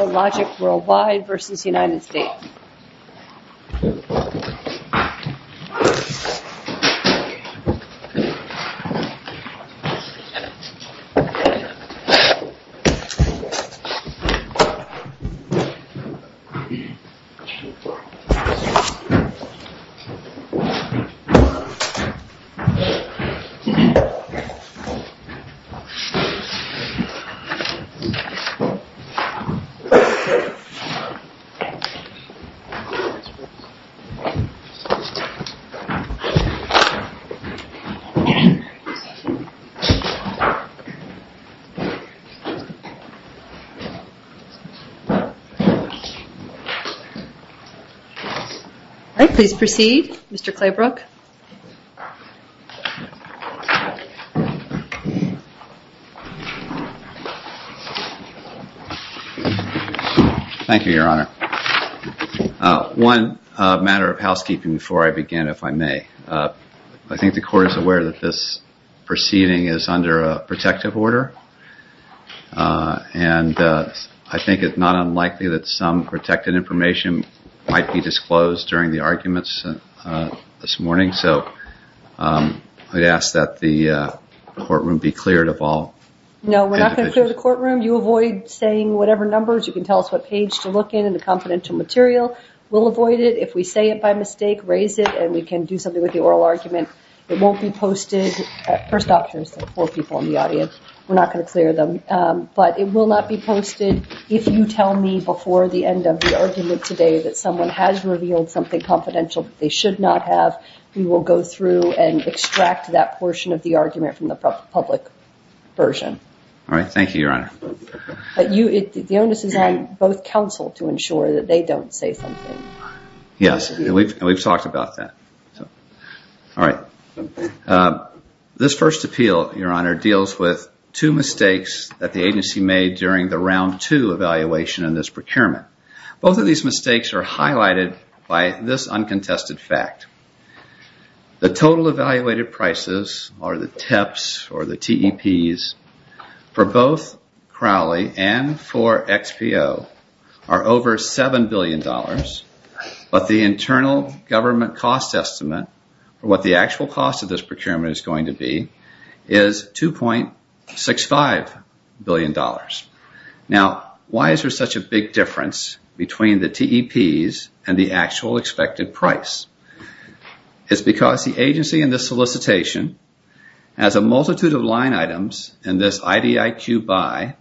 Logistics Worldwide v. United States Please proceed, Mr. Claybrook. Thank you, Your Honor. One matter of housekeeping before I begin, if I may. I think the Court is aware that this proceeding is under a protective order, and I think it's not unlikely that some protected information might be disclosed during the arguments this morning, so I'd ask that the courtroom be cleared of all individuals. No, we're not going to clear the courtroom. You avoid saying whatever numbers. You can tell us what page to look in, and the confidential material. We'll avoid it. If we say it by mistake, raise it, and we can do something with the oral argument. It won't be posted at First Doctors, the four people in the audience. We're not going to clear them, but it will not be posted if you tell me before the end of the argument today that someone has revealed something confidential that they should not have. We will go through and extract that version. Thank you, Your Honor. The onus is on both counsel to ensure that they don't say something. Yes, and we've talked about that. This first appeal, Your Honor, deals with two mistakes that the agency made during the round two evaluation in this procurement. Both of these mistakes are highlighted by this uncontested fact. The total evaluated prices, or the TEPs, for both Crowley and for XPO are over $7 billion, but the internal government cost estimate, or what the actual cost of this procurement is going to be, is $2.65 billion. Now, why is there such a big difference between the TEPs and the actual expected price? It's because the agency in this solicitation has a multitude of line items in this IDIQ by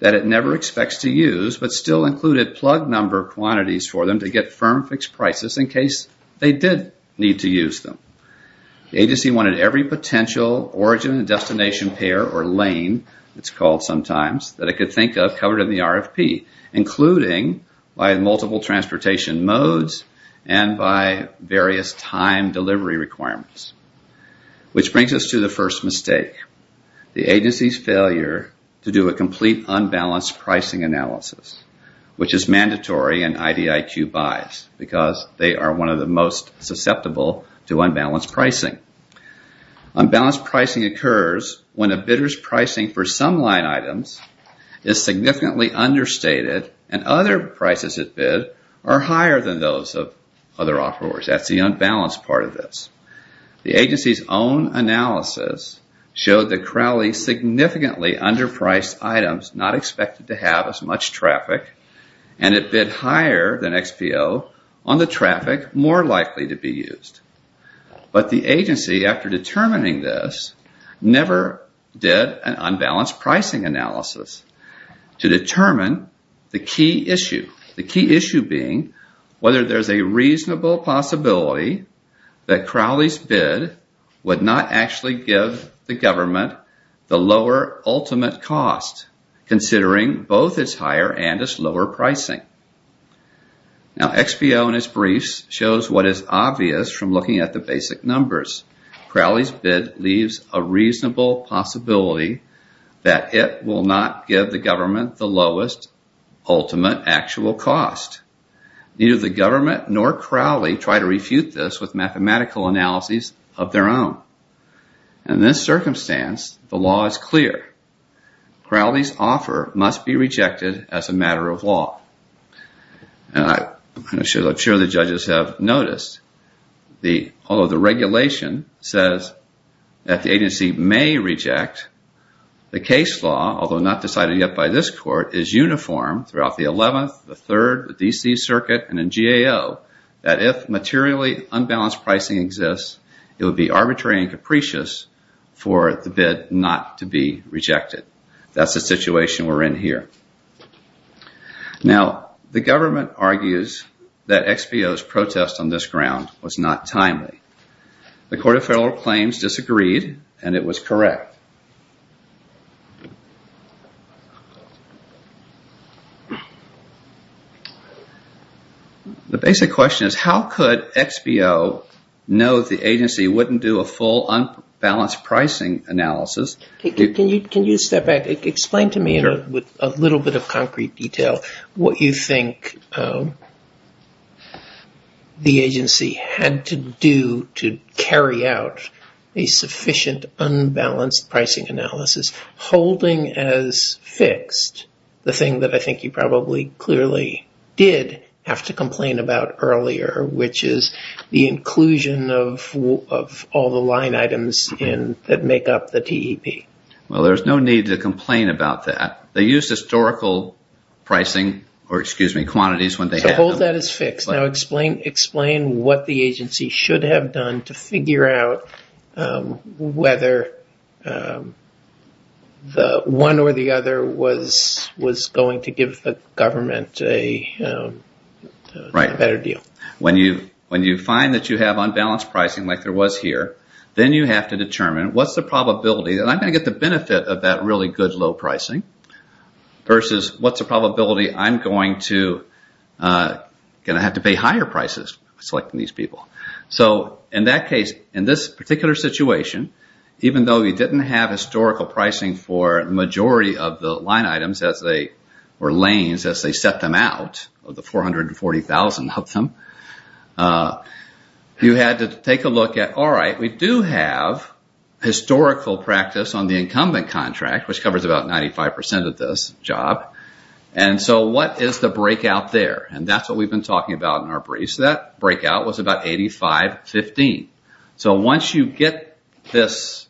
that it never expects to use, but still included plug number quantities for them to get firm fixed prices in case they did need to use them. The agency wanted every potential origin and destination pair, or lane, it's called sometimes, that it could think of covered in the RFP, including by multiple transportation modes and by various time delivery requirements. Which brings us to the first mistake, the agency's failure to do a complete unbalanced pricing analysis, which is mandatory in IDIQ buys because they are one of the most susceptible to unbalanced pricing. Unbalanced pricing occurs when a bidder's pricing for some line items is significantly understated and other prices at bid are higher than those of other offerors. That's the unbalanced part of this. The agency's own analysis showed that Crowley significantly underpriced items, not expected to have as much traffic, and it bid higher than XPO on the traffic more likely to be used. But the agency, after determining this, never did an unbalanced pricing analysis to determine the key issue, the key issue being whether there's a reasonable possibility that Crowley's bid would not actually give the government the lower ultimate cost, considering both its higher and its lower pricing. Now XPO in its briefs shows what is obvious from looking at the basic numbers. Crowley's bid leaves a reasonable possibility that it will not give the government the lowest ultimate actual cost. Neither the government nor Crowley try to refute this with mathematical analyses of their own. In this circumstance, the law is clear. Crowley's offer must be rejected as a matter of law. I'm sure the judges have noticed, although the regulation says that the agency may reject, the case law, although not decided yet by this court, is uniform throughout the 11th, the 3rd, the DC circuit, and in GAO, that if materially unbalanced pricing exists, it would be arbitrary and capricious for the bid not to be rejected. That's the situation we're in here. Now the government argues that XPO's protest on this ground was not timely. The Court of Federal Claims disagreed and it was correct. The basic question is how could XPO know the agency wouldn't do a full unbalanced pricing analysis? Can you step back and explain to me in a little bit of concrete detail what you think the agency had to do to carry out a sufficient unbalanced pricing analysis, holding as fixed the thing that I think you probably clearly did have to complain about earlier, which is the inclusion of all the line items that make up the TEP? Well, there's no need to complain about that. They use historical pricing, or excuse me, quantities when they have them. So hold that as fixed. Now explain what the agency should have done to figure out whether one or the other was going to give the government a better deal. When you find that you have unbalanced pricing like there was here, then you have to determine what's the probability that I'm going to get the benefit of that really good low pricing versus what's the probability I'm going to have to pay higher prices selecting these people. So in that case, in this particular situation, even though you didn't have historical pricing for the majority of the line items or lanes as they set them out, the 440,000 of them, you had to take a look at, all right, we do have historical practice on the incumbent contract, which covers about 95% of this job, and so what is the breakout there? And that's what we've been talking about in our briefs. That breakout was about 85-15. So once you get this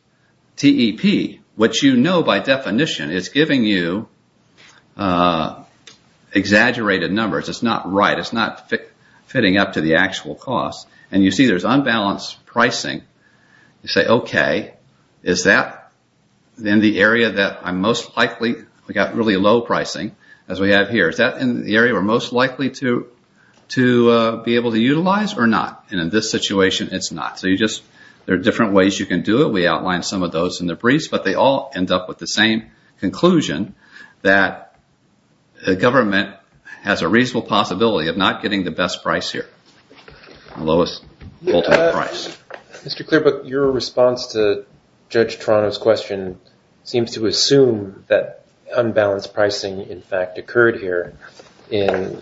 TEP, what you know by definition is giving you exaggerated numbers. It's not right. It's not fitting up to the market. You say, okay, is that in the area that I'm most likely, we've got really low pricing as we have here, is that in the area we're most likely to be able to utilize or not? And in this situation, it's not. So there are different ways you can do it. We outlined some of those in the briefs, but they all end up with the same conclusion that the government has a reasonable possibility of not getting the best price here, the lowest ultimate price. Mr. Clearbrook, your response to Judge Toronto's question seems to assume that unbalanced pricing in fact occurred here in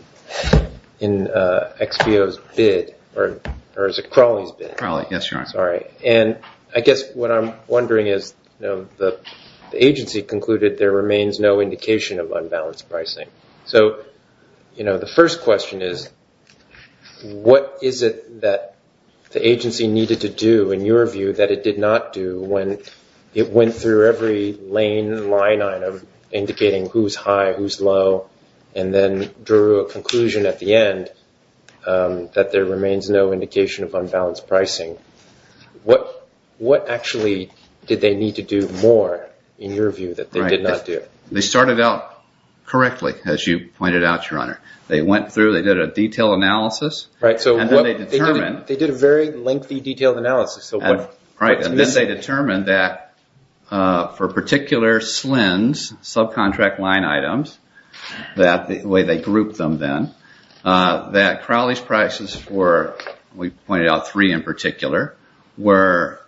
XBO's bid, or is it Crawley's bid? Crawley, yes, Your Honor. Sorry. And I guess what I'm wondering is the agency concluded there remains no indication of unbalanced pricing. So the first question is, what is it that the agency needed to do in your view that it did not do when it went through every lane line item indicating who's high, who's low, and then drew a conclusion at the end that there remains no indication of unbalanced pricing? What actually did they need to do more in your view that they did not do? They started out correctly, as you pointed out, Your Honor. They went through, they did a detailed analysis, and then they determined... They did a very lengthy detailed analysis. And then they determined that for particular slins, subcontract line items, the way they grouped them then, that Crawley's prices were, we pointed out three in particular, were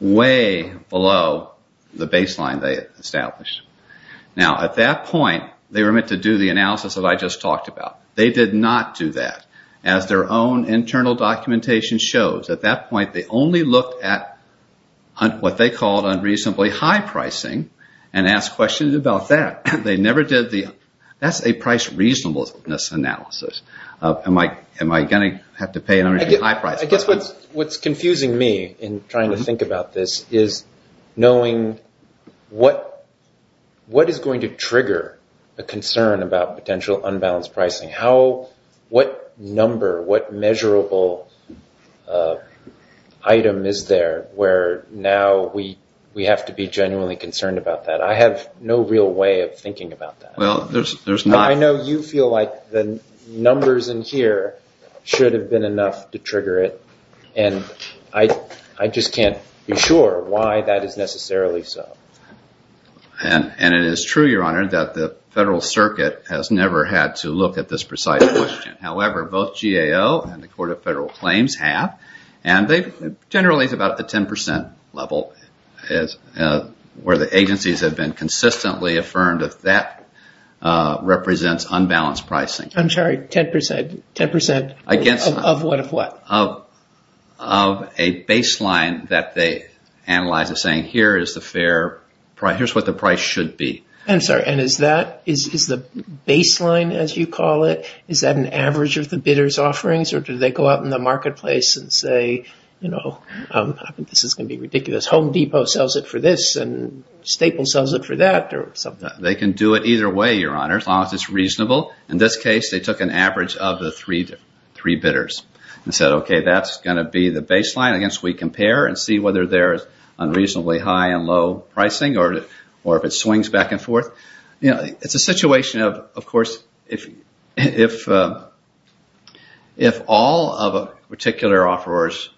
way below the baseline they established. Now at that point, they were meant to do the analysis that I just talked about. They did not do that. As their own internal documentation shows, at that point they only looked at what they called unreasonably high pricing and asked questions about that. They never did the... That's a price reasonableness analysis. Am I going to have to pay an unreasonably high price for this? I guess what's confusing me in trying to think about this is knowing what is going to trigger a concern about potential unbalanced pricing. What number, what measurable item is there where now we have to be genuinely concerned about that? I have no real way of thinking about that. Well, there's not... I know you feel like the numbers in here should have been enough to trigger it. I just can't be sure why that is necessarily so. And it is true, Your Honor, that the Federal Circuit has never had to look at this precise question. However, both GAO and the Court of Federal Claims have. And generally it's about the 10% level where the agencies have been consistently affirmed that that represents unbalanced pricing. I'm sorry, 10% of what, of what? Of a baseline that they analyze as saying here is the fair price, here's what the price should be. I'm sorry, and is that, is the baseline as you call it, is that an average of the bidder's offerings or do they go out in the marketplace and say, you know, this is going to be ridiculous. Home Depot sells it for this and Staple sells it for that or something. They can do it either way, Your Honor, as long as it's reasonable. In this case, they took an average of the three bidders and said, okay, that's going to be the baseline. I guess we compare and see whether there is unreasonably high and low pricing or if it swings back and forth. It's a situation of course, if all of a particular offeror's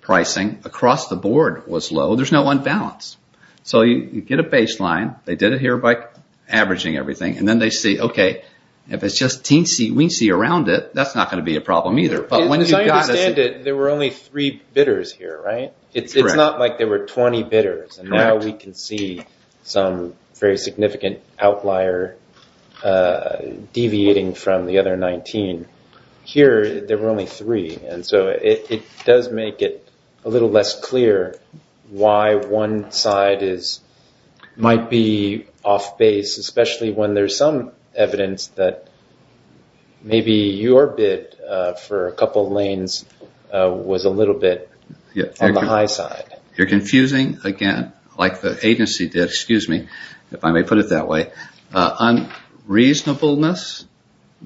pricing across the board was low there's no unbalance. So you get a baseline, they did it here by averaging everything, and then they say, okay, if it's just teensy-weensy around it, that's not going to be a problem either. But when you've got to see... As I understand it, there were only three bidders here, right? It's not like there were 20 bidders and now we can see some very significant outlier deviating from the other 19. Here, there were only three and so it does make it a little less clear why one side might be off-base, especially when there's some evidence that maybe your bid for a couple of lanes was a little bit on the high side. You're confusing, again, like the agency did, excuse me, if I may put it that way, unreasonableness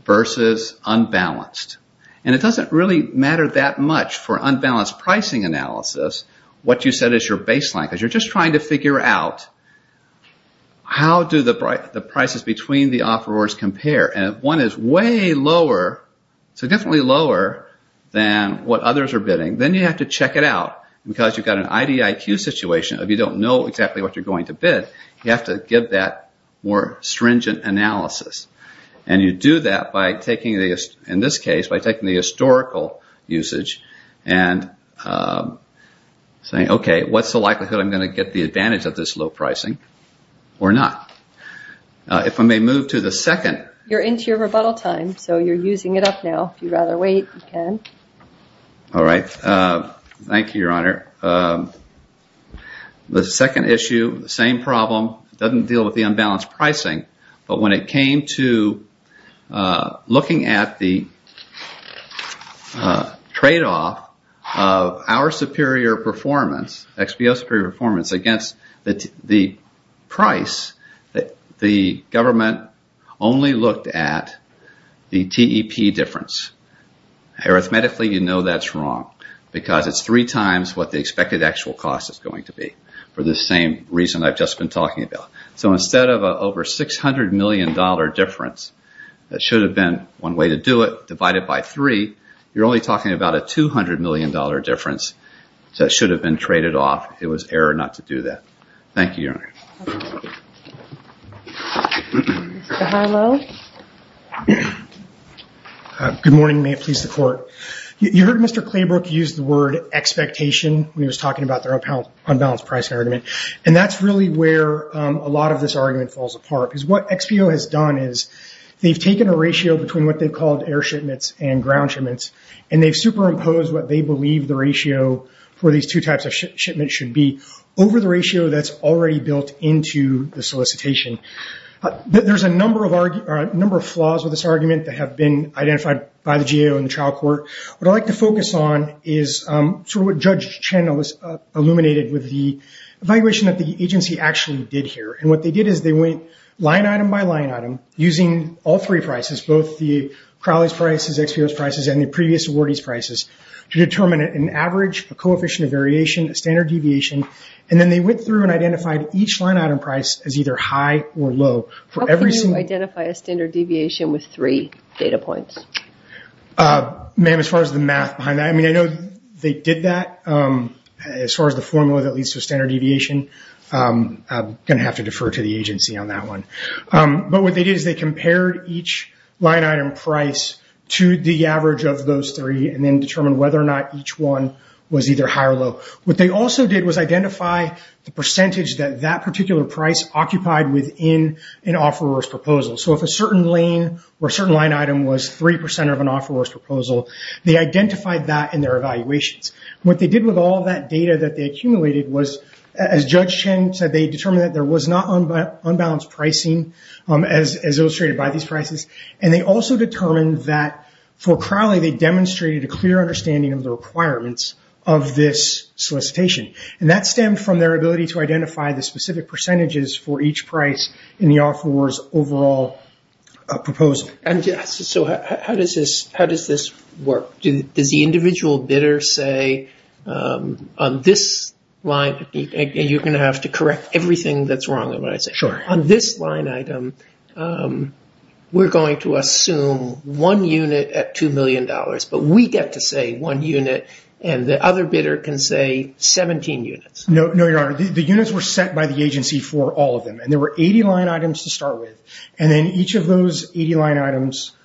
versus unbalanced. It doesn't really matter that much for unbalanced pricing analysis what you set as your baseline because you're just trying to figure out how do the prices between the offerors compare. If one is way lower, so definitely lower than what others are bidding, then you have to check it out because you've got an IDIQ situation of you don't know exactly what you're going to bid, you have to give that more stringent analysis. You do that by taking, in this case, by taking the historical usage and saying, okay, what's the likelihood I'm going to get the advantage of this low pricing or not? If I may move to the second. You're into your rebuttal time so you're using it up now. If you'd rather wait, you can. All right. Thank you, Your Honor. The second issue, the same problem, doesn't deal with the unbalanced pricing, but when it came to looking at the tradeoff of our superior performance, XBO superior performance, against the price, the government only looked at the TEP difference. Arithmetically, you know that's wrong because it's three times what the expected actual cost is going to be for the same reason I've just been talking about. Instead of an over $600 million difference, that should have been one way to do it, divided by three, you're only talking about a $200 million difference that should have been traded off. It was error not to do that. Thank you, Your Honor. Mr. Harlow? Good morning. May it please the court. You heard Mr. Claybrook use the word expectation when he was talking about their unbalanced pricing argument. That's really where a lot of this argument falls apart because what XBO has done is they've taken a ratio between what they've called air shipments and ground shipments and they've superimposed what they believe the ratio for these two types of shipments should be over the ratio that's already built into the solicitation. There's a number of flaws with this argument that have been identified by the GAO and the trial court. What I'd like to focus on is what Judge Chen has illuminated with the evaluation that the agency actually did here. What they did is they went line item by line item using all three prices, both the Crowley's prices, XBO's prices, and the previous awardee's prices to determine an average, a coefficient of variation, a standard deviation. Then they went through and identified each line item price as either high or low. How can you identify a standard deviation with three data points? Ma'am, as far as the math behind that, I know they did that. As far as the formula that leads to standard deviation, I'm going to have to defer to the agency on that one. What they did is they compared each line item price to the average of those three and then determined whether or not each one was either high or low. What they also did was identify the percentage that that particular price occupied within an offeror's proposal. If a certain lane or What they did with all of that data that they accumulated was, as Judge Chen said, they determined that there was not unbalanced pricing as illustrated by these prices. They also determined that for Crowley, they demonstrated a clear understanding of the requirements of this solicitation. That stemmed from their ability to identify the specific percentages for each price in the offeror's overall proposal. How does this work? Does the individual bidder say, on this line, and you're going to have to correct everything that's wrong with what I say, on this line item, we're going to assume one unit at $2 million, but we get to say one unit and the other bidder can say 17 units? No, Your Honor. The units were set by the agency for all of them. There were 80 line items to start with. Each of those 80 line items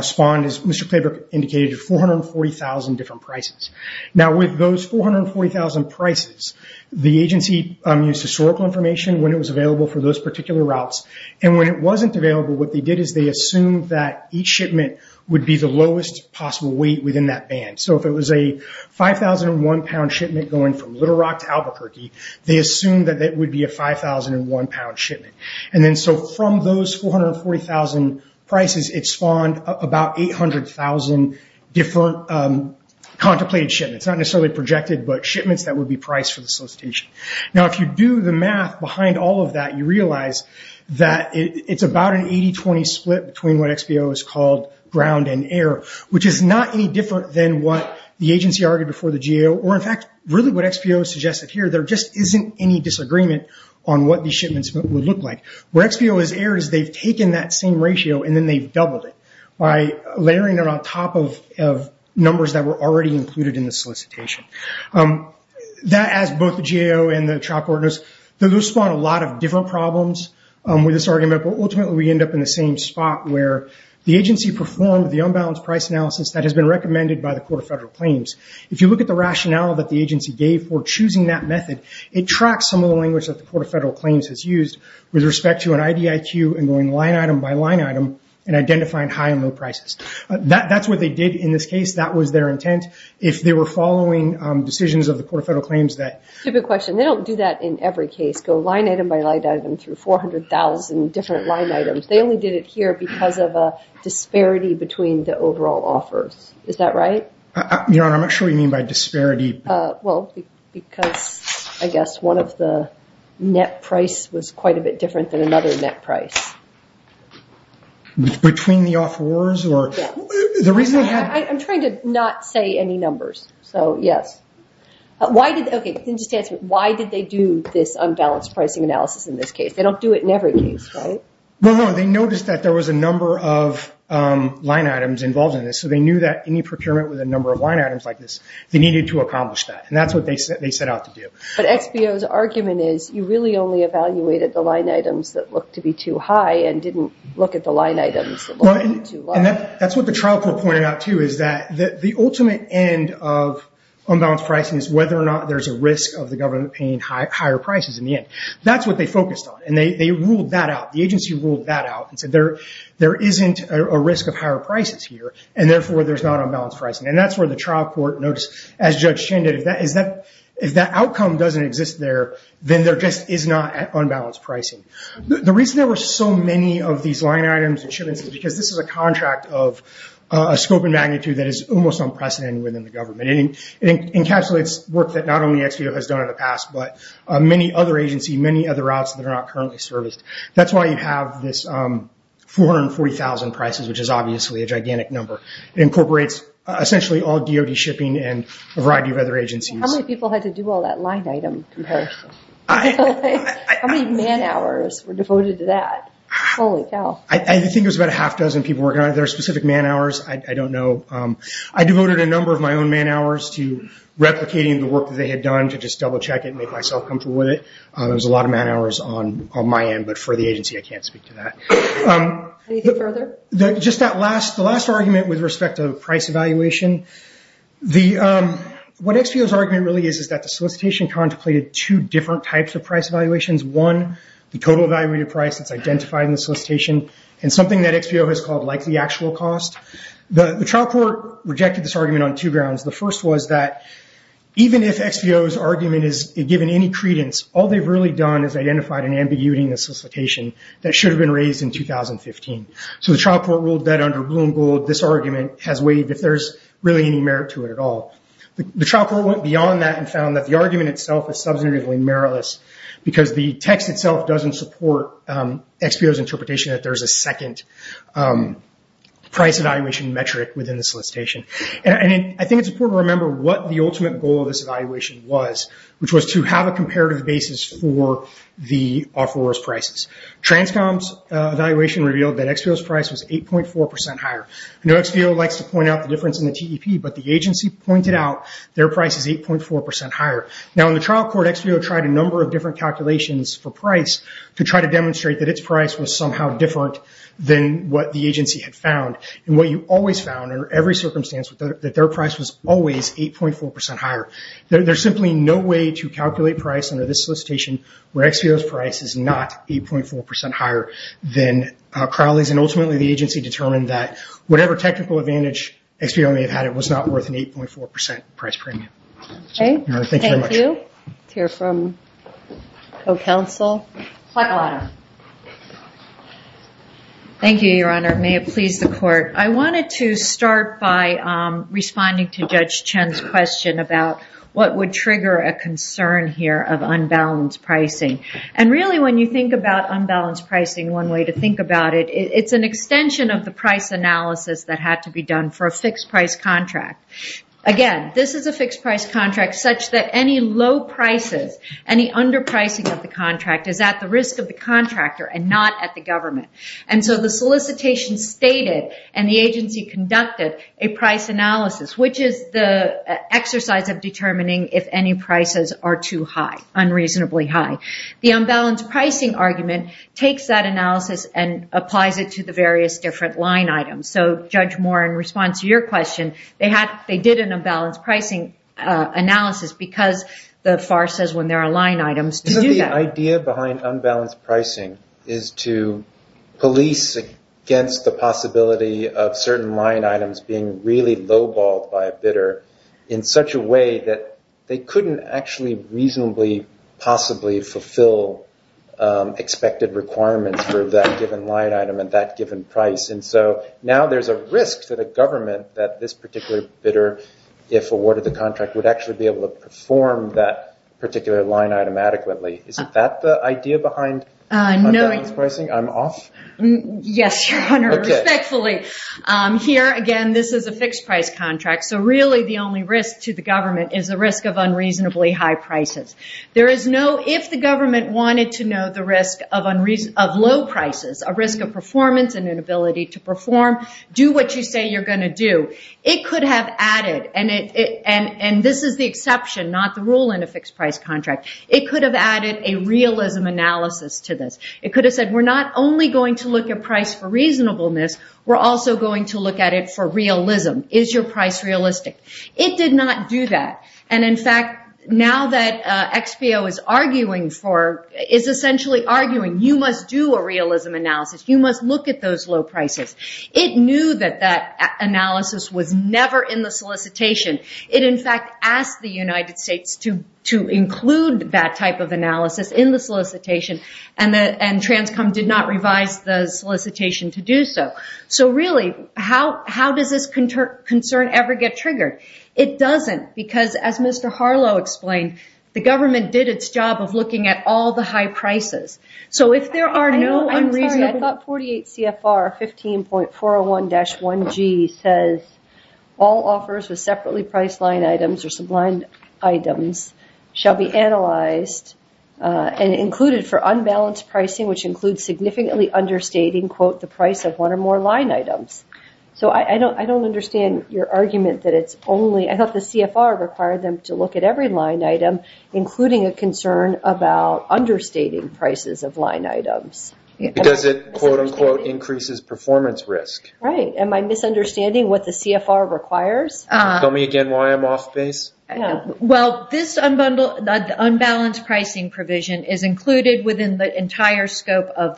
spawned, as Mr. Claybrook indicated, 440,000 different prices. With those 440,000 prices, the agency used historical information when it was available for those particular routes. When it wasn't available, what they did is they assumed that each shipment would be the lowest possible weight within that band. If it was a 5,001 pound shipment going from Little Rock to Albuquerque, they assumed that it would be a 5,001 pound shipment. From those 440,000 prices, it spawned about 800,000 different contemplated shipments. Not necessarily projected, but shipments that would be priced for the solicitation. If you do the math behind all of that, you realize that it's about an 80-20 split between what XBO has called ground and air, which is not any different than what the agency argued before the GAO, or in fact, really what XBO suggested here. There just isn't any disagreement on what these shipments would look like. Where XBO is air is they've taken that same ratio and then they've doubled it by layering it on top of numbers that were already included in the solicitation. That has both the GAO and the chalkboard. Those spawn a lot of different problems with this argument, but ultimately we end up in the same spot where the agency performed the unbalanced price analysis that has been recommended by the Court of Federal Claims. If you look at the rationale that the agency gave for choosing that method, it tracks some of the language that the Court of Federal Claims has used with respect to an IDIQ and going line item by line item and identifying high and low prices. That's what they did in this case. That was their intent. If they were following decisions of the Court of Federal Claims that... Typical question. They don't do that in every case. Go line item by line item through 400,000 different line items. They only did it here because of a disparity between the overall offers. Is that right? Your Honor, I'm not sure what you mean by disparity. Because, I guess, one of the net price was quite a bit different than another net price. Between the offers or... I'm trying to not say any numbers, so yes. Why did they do this unbalanced pricing analysis in this case? They don't do it in every case, right? No, no. They noticed that there was a number of line items involved in this, so they knew that any procurement with a number of line items like this, they needed to accomplish that. That's what they set out to do. But, XBO's argument is you really only evaluated the line items that looked to be too high and didn't look at the line items that looked too low. That's what the trial court pointed out, too, is that the ultimate end of unbalanced pricing is whether or not there's a risk of the government paying higher prices in the end. That's what they focused on. They ruled that out. The agency ruled that out and said there isn't a risk of higher prices here, and therefore, there's not unbalanced pricing. That's where the trial court noticed, as Judge Chan did, if that outcome doesn't exist there, then there just is not unbalanced pricing. The reason there were so many of these line items and shipments is because this is a contract of a scope and magnitude that is almost unprecedented within the government. It encapsulates work that not only XBO has done in the past, but many other agencies, many other routes that a gigantic number. It incorporates, essentially, all DOD shipping and a variety of other agencies. How many people had to do all that line item comparison? How many man hours were devoted to that? Holy cow. I think it was about a half dozen people working on it. There are specific man hours. I don't know. I devoted a number of my own man hours to replicating the work that they had done to just double check it and make myself comfortable with it. There was a lot of man hours on my end, but for the agency, I can't speak to that. Anything further? Just that last argument with respect to price evaluation. What XBO's argument really is is that the solicitation contemplated two different types of price evaluations. One, the total value of your price that's identified in the solicitation, and something that XBO has called like the actual cost. The trial court rejected this argument on two grounds. The first was that even if XBO's argument is given any credence, all they've really done is identified an ambiguity in 2015. The trial court ruled that under Bloom Gold, this argument has waived if there's really any merit to it at all. The trial court went beyond that and found that the argument itself is substantively meritless because the text itself doesn't support XBO's interpretation that there's a second price evaluation metric within the solicitation. I think it's important to remember what the ultimate goal of this evaluation was, which was to have a comparative basis for the offeror's prices. Transcom's evaluation revealed that XBO's price was 8.4% higher. I know XBO likes to point out the difference in the TEP, but the agency pointed out their price is 8.4% higher. Now, in the trial court, XBO tried a number of different calculations for price to try to demonstrate that its price was somehow different than what the agency had found. What you always found under every circumstance was that their price was always 8.4% higher. There's simply no way to calculate price under this solicitation where XBO's price is not 8.4% higher than Crowley's. Ultimately, the agency determined that whatever technical advantage XBO may have had, it was not worth an 8.4% price premium. Thank you very much. Thank you. Let's hear from co-counsel. Thank you, Your Honor. May it please the court. I wanted to start by responding to Judge Chen's question about what would trigger a concern here of unbalanced pricing. Really, when you think about unbalanced pricing, one way to think about it, it's an extension of the price analysis that had to be done for a fixed price contract. Again, this is a fixed price contract such that any low prices, any underpricing of the contract is at the end. The solicitation stated and the agency conducted a price analysis, which is the exercise of determining if any prices are too high, unreasonably high. The unbalanced pricing argument takes that analysis and applies it to the various different line items. Judge Moore, in response to your question, they did an unbalanced pricing analysis because the FAR says when there are line items to do that. The idea behind unbalanced pricing is to police against the possibility of certain line items being really low balled by a bidder in such a way that they couldn't actually reasonably possibly fulfill expected requirements for that given line item at that given price. Now there's a risk to the government that this particular bidder, if awarded the contract, would actually be able to perform that particular line item adequately. Is that the idea behind unbalanced pricing? I'm off? Yes, Your Honor, respectfully. Here, again, this is a fixed price contract, so really the only risk to the government is the risk of unreasonably high prices. If the government wanted to know the risk of low prices, a risk of performance and inability to perform, do what you say you're going to do, it could have added, and this is the exception, not the rule in a fixed price contract, it could have added a realism analysis to this. It could have said, we're not only going to look at price for reasonableness, we're also going to look at it for realism. Is your price realistic? It did not do that. In fact, now that XBO is arguing for, is essentially arguing, you must do a realism analysis. You must look at those low prices. It knew that that analysis was never in the solicitation. It in fact asked the United States to include that type of analysis in the solicitation, and Transcom did not revise the solicitation to do so. Really, how does this concern ever get triggered? It doesn't, because as Mr. Harlow explained, the government did its job of looking at all the high prices. So if there are no unreasonable... I'm sorry, I thought 48 CFR 15.401-1G says, all offers with separately priced line items or sublined items shall be analyzed and included for unbalanced pricing, which includes significantly understating, quote, the price of one or more line items. So I don't understand your argument that it's only, I thought the CFR required them to look at every line item, including a concern about understating prices of line items. Because it, quote, unquote, increases performance risk. Right. Am I misunderstanding what the CFR requires? Tell me again why I'm off base. Well, this unbalanced pricing provision is included within the entire scope of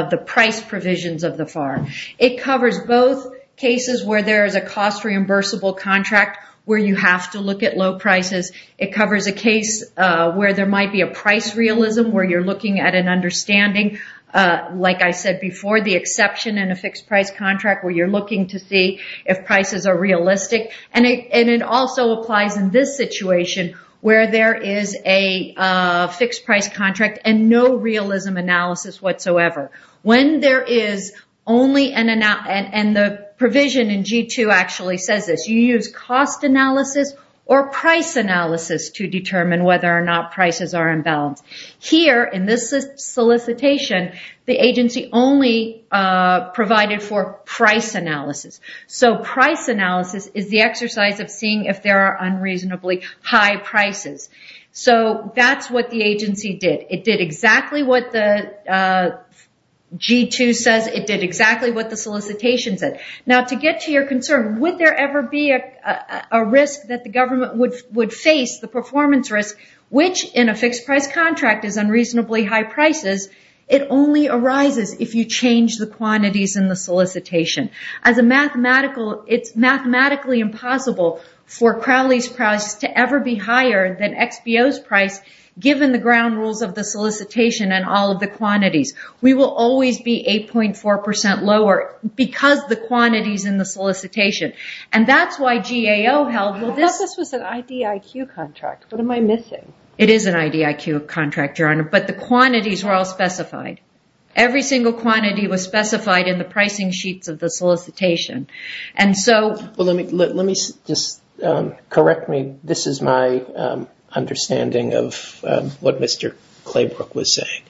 the price provisions of the FAR. It covers both cases where there is a cost reimbursable contract where you have to look at low prices. It covers a case where there might be a price realism where you're looking at an understanding, like I said before, the exception in a fixed price contract where you're looking to see if prices are realistic. And it also applies in this situation where there is a fixed price contract and no realism analysis whatsoever. When there is only... And the provision in G2 actually says this. You use cost analysis or price analysis to determine whether or not prices are imbalanced. Here, in this solicitation, the agency only provided for price analysis. So price analysis is the exercise of seeing if there are unreasonably high prices. So that's what the agency did. It did exactly what the G2 says. It did exactly what the solicitation said. Now, to get to your concern, would there ever be a risk that the government would face, the performance risk, which in a fixed price contract is unreasonably high prices, it only arises if you change the quantities in the solicitation. As a mathematical... It's mathematically impossible for Crowley's price to ever be higher than XBO's price given the ground rules of the solicitation and all of the quantities. We will always be 8.4% lower because the quantities in the solicitation. And that's why GAO held... I thought this was an IDIQ contract. What am I missing? It is an IDIQ contract, Your Honor, but the quantities were all specified. Every single quantity was specified in the pricing sheets of the solicitation. And so... Let me just correct me. This is my understanding of what Mr. Claybrook was saying.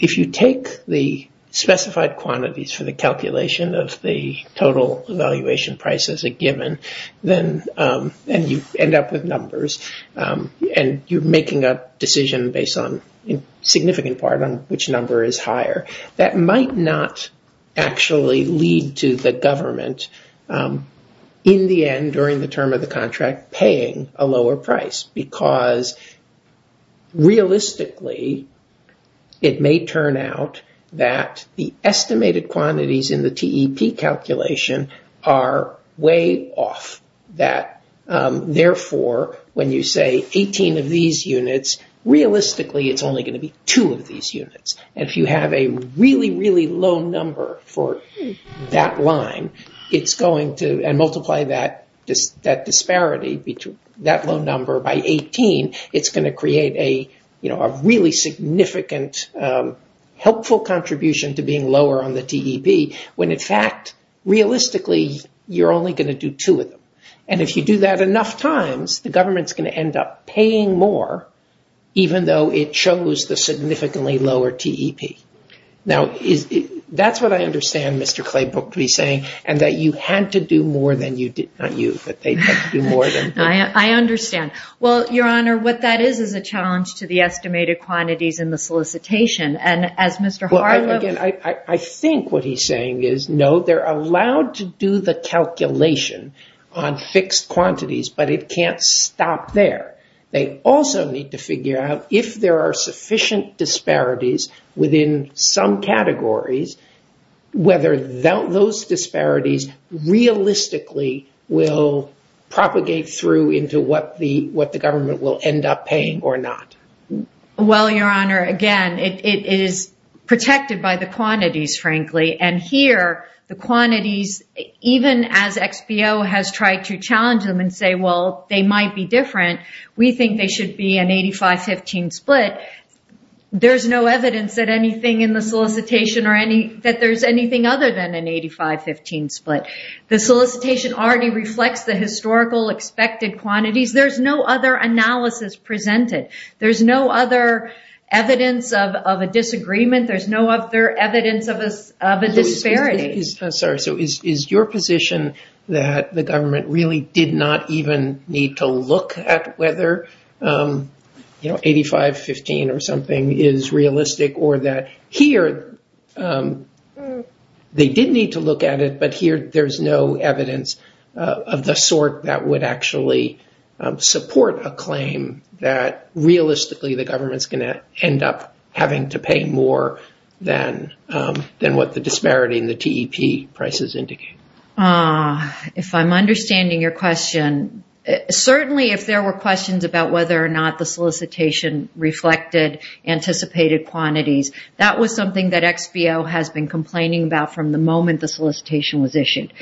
If you take the specified quantities for the calculation of the total evaluation price as a given, and you end up with numbers, and you're making a decision based on a significant part on which number is higher, that might not actually lead to the government, in the end, during the term of the contract, paying a lower price because realistically, it may turn out that the estimated quantities in the TEP calculation are way off that. Therefore, when you say 18 of these units, realistically, it's only going to be 2 of these units. And if you have a really, really low number for that line, it's going to multiply that disparity, that low number by 18, it's going to create a really significant helpful contribution to being lower on the TEP, when in fact, realistically, you're only going to do 2 of them. And if you do that enough times, the government's going to end up paying more, even though it chose the significantly lower TEP. Now, that's what I understand Mr. Claybrook to be saying, and that you had to do more than you did, not you, that they had to do more than you. I understand. Well, Your Honor, what that is, is a challenge to the estimated quantities in the solicitation, and as Mr. Harlow- I think what he's saying is, no, they're allowed to do the calculation on fixed quantities, but it can't stop there. They also need to figure out if there are sufficient disparities within some categories, whether those disparities realistically will propagate through into what the government will end up paying or not. Well, Your Honor, again, it is protected by the quantities, frankly, and here, the quantities, even as XBO has tried to challenge them and say, well, they might be different, we think they should be an 85-15 split, there's no evidence that anything in the solicitation or that there's anything other than an 85-15 split. The solicitation already reflects the historical expected quantities. There's no other analysis presented. There's no other evidence of a disagreement. There's no other evidence of a disparity. I'm sorry, so is your position that the government really did not even need to look at whether 85-15 or something is realistic, or that here they did need to look at it, but here there's no evidence of the sort that would actually support a claim that realistically the government is going to end up having to pay more than what the disparity in the TEP prices indicate? If I'm understanding your question, certainly if there were questions about whether or not the solicitation reflected anticipated quantities, that was something that XBO has been complaining about from the moment the solicitation was issued.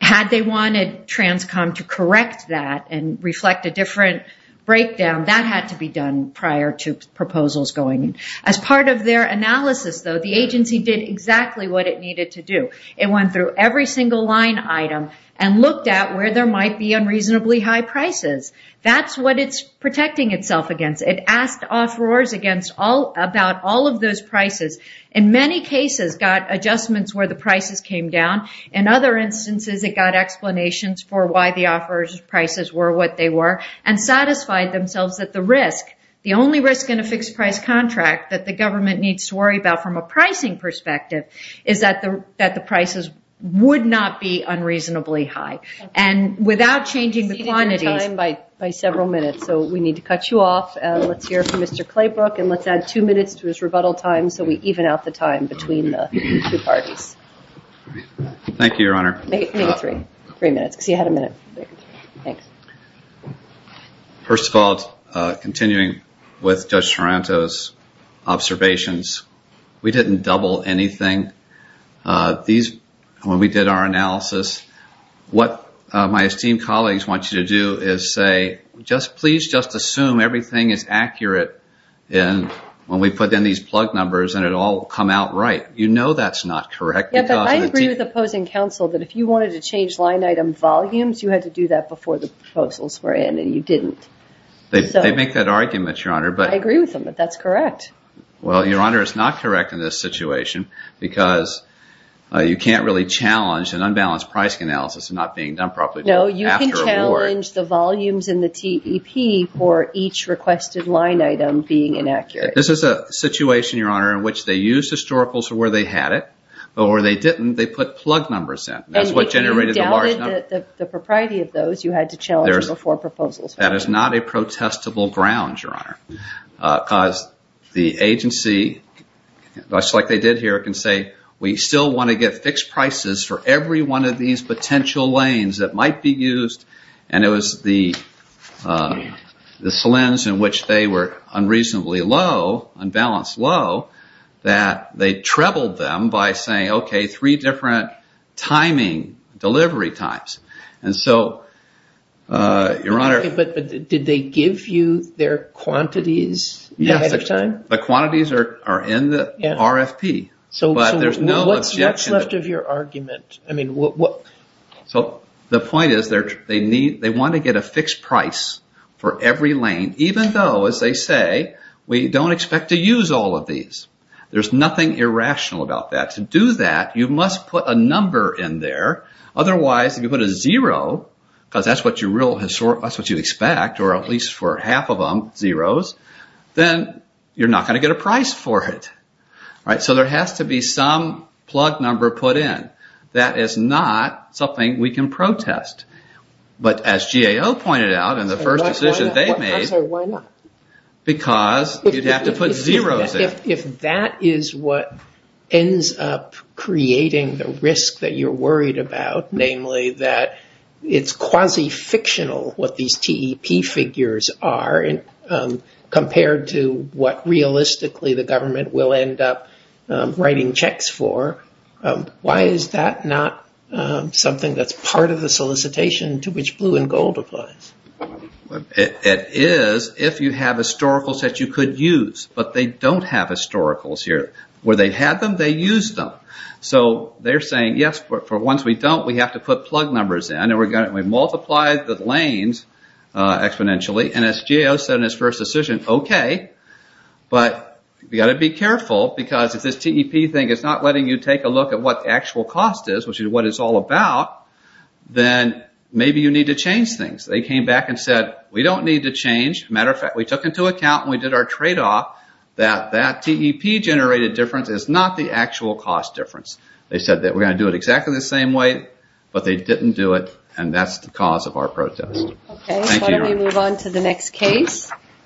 Had they wanted TRANSCOM to correct that and reflect a different breakdown, that had to be done prior to proposals going in. As part of their analysis, though, the agency did exactly what it needed to do. It went through every single line item and looked at where there might be unreasonably high prices. That's what it's protecting itself against. It asked offerors about all of those prices. In many cases, got adjustments where the prices came down. In other instances, it got explanations for why the offeror's prices were what they were and satisfied themselves that the risk, the only risk in a fixed price contract that the government needs to worry about from a pricing perspective, is that the prices would not be unreasonably high. Without changing the quantities, we need to cut you off. Let's hear from Mr. Claybrook and let's add two minutes to his rebuttal time so we even out the time between the two parties. Thank you, Your Honor. First of all, continuing with Judge Sorrento's observations, we didn't double anything. When we did our analysis, what my esteemed colleagues want you to do is say, please just assume everything is accurate when we put in these plug numbers and it all will come out right. You know that's not correct. I agree with opposing counsel that if you wanted to change line item volumes, you had to do that before the proposals were in and you didn't. They make that argument, Your Honor. I agree with them, but that's correct. Well, Your Honor, it's not correct in this situation because you can't really challenge an unbalanced pricing analysis not being done properly. No, you can challenge the volumes in the TEP for each requested line item being inaccurate. This is a situation, Your Honor, in which they used historicals for where they had it, but where they didn't, they put plug numbers in. And if you doubted the propriety of those, you had to challenge them before proposals were in. That is not a protestable ground, Your Honor, because the agency, just like they did here, can say, we still want to get fixed prices for every one of these potential lanes that might be used. And it was the slims in which they were unreasonably low, unbalanced low, that they trebled them by saying, okay, three different timing, delivery times. Okay, but did they give you their quantities ahead of time? Yes, the quantities are in the RFP, but there's no... What's left of your argument? The point is they want to get a fixed price for every lane, even though, as they say, we don't expect to use all of these. There's nothing irrational about that. To do that, you must put a number in there. Otherwise, if you put a zero, because that's what you expect, or at least for half of them, zeros, then you're not going to get a price for it. So there has to be some plug number put in. That is not something we can protest. But as GAO pointed out in the first decision they made, because you have to put zeros in. If that is what ends up creating the risk that you're worried about, namely that it's quasi-fictional what these TEP figures are compared to what realistically the government will end up writing checks for, why is that not something that's part of the solicitation to which blue and gold applies? It is if you have historicals that you could use, but they don't have historicals here. Where they had them, they used them. So they're saying, yes, for once we don't, we have to put plug numbers in, and we multiply the lanes exponentially. And as GAO said in his first decision, okay, but you've got to be careful, because if this TEP thing is not letting you take a look at what the actual cost is, which is what it's all about, then maybe you need to change things. They came back and said, we don't need to change. As a matter of fact, we took into account and we did our trade-off that that TEP generated difference is not the actual cost difference. They said that we're going to do it exactly the same way, but they didn't do it, and that's the cause of our protest.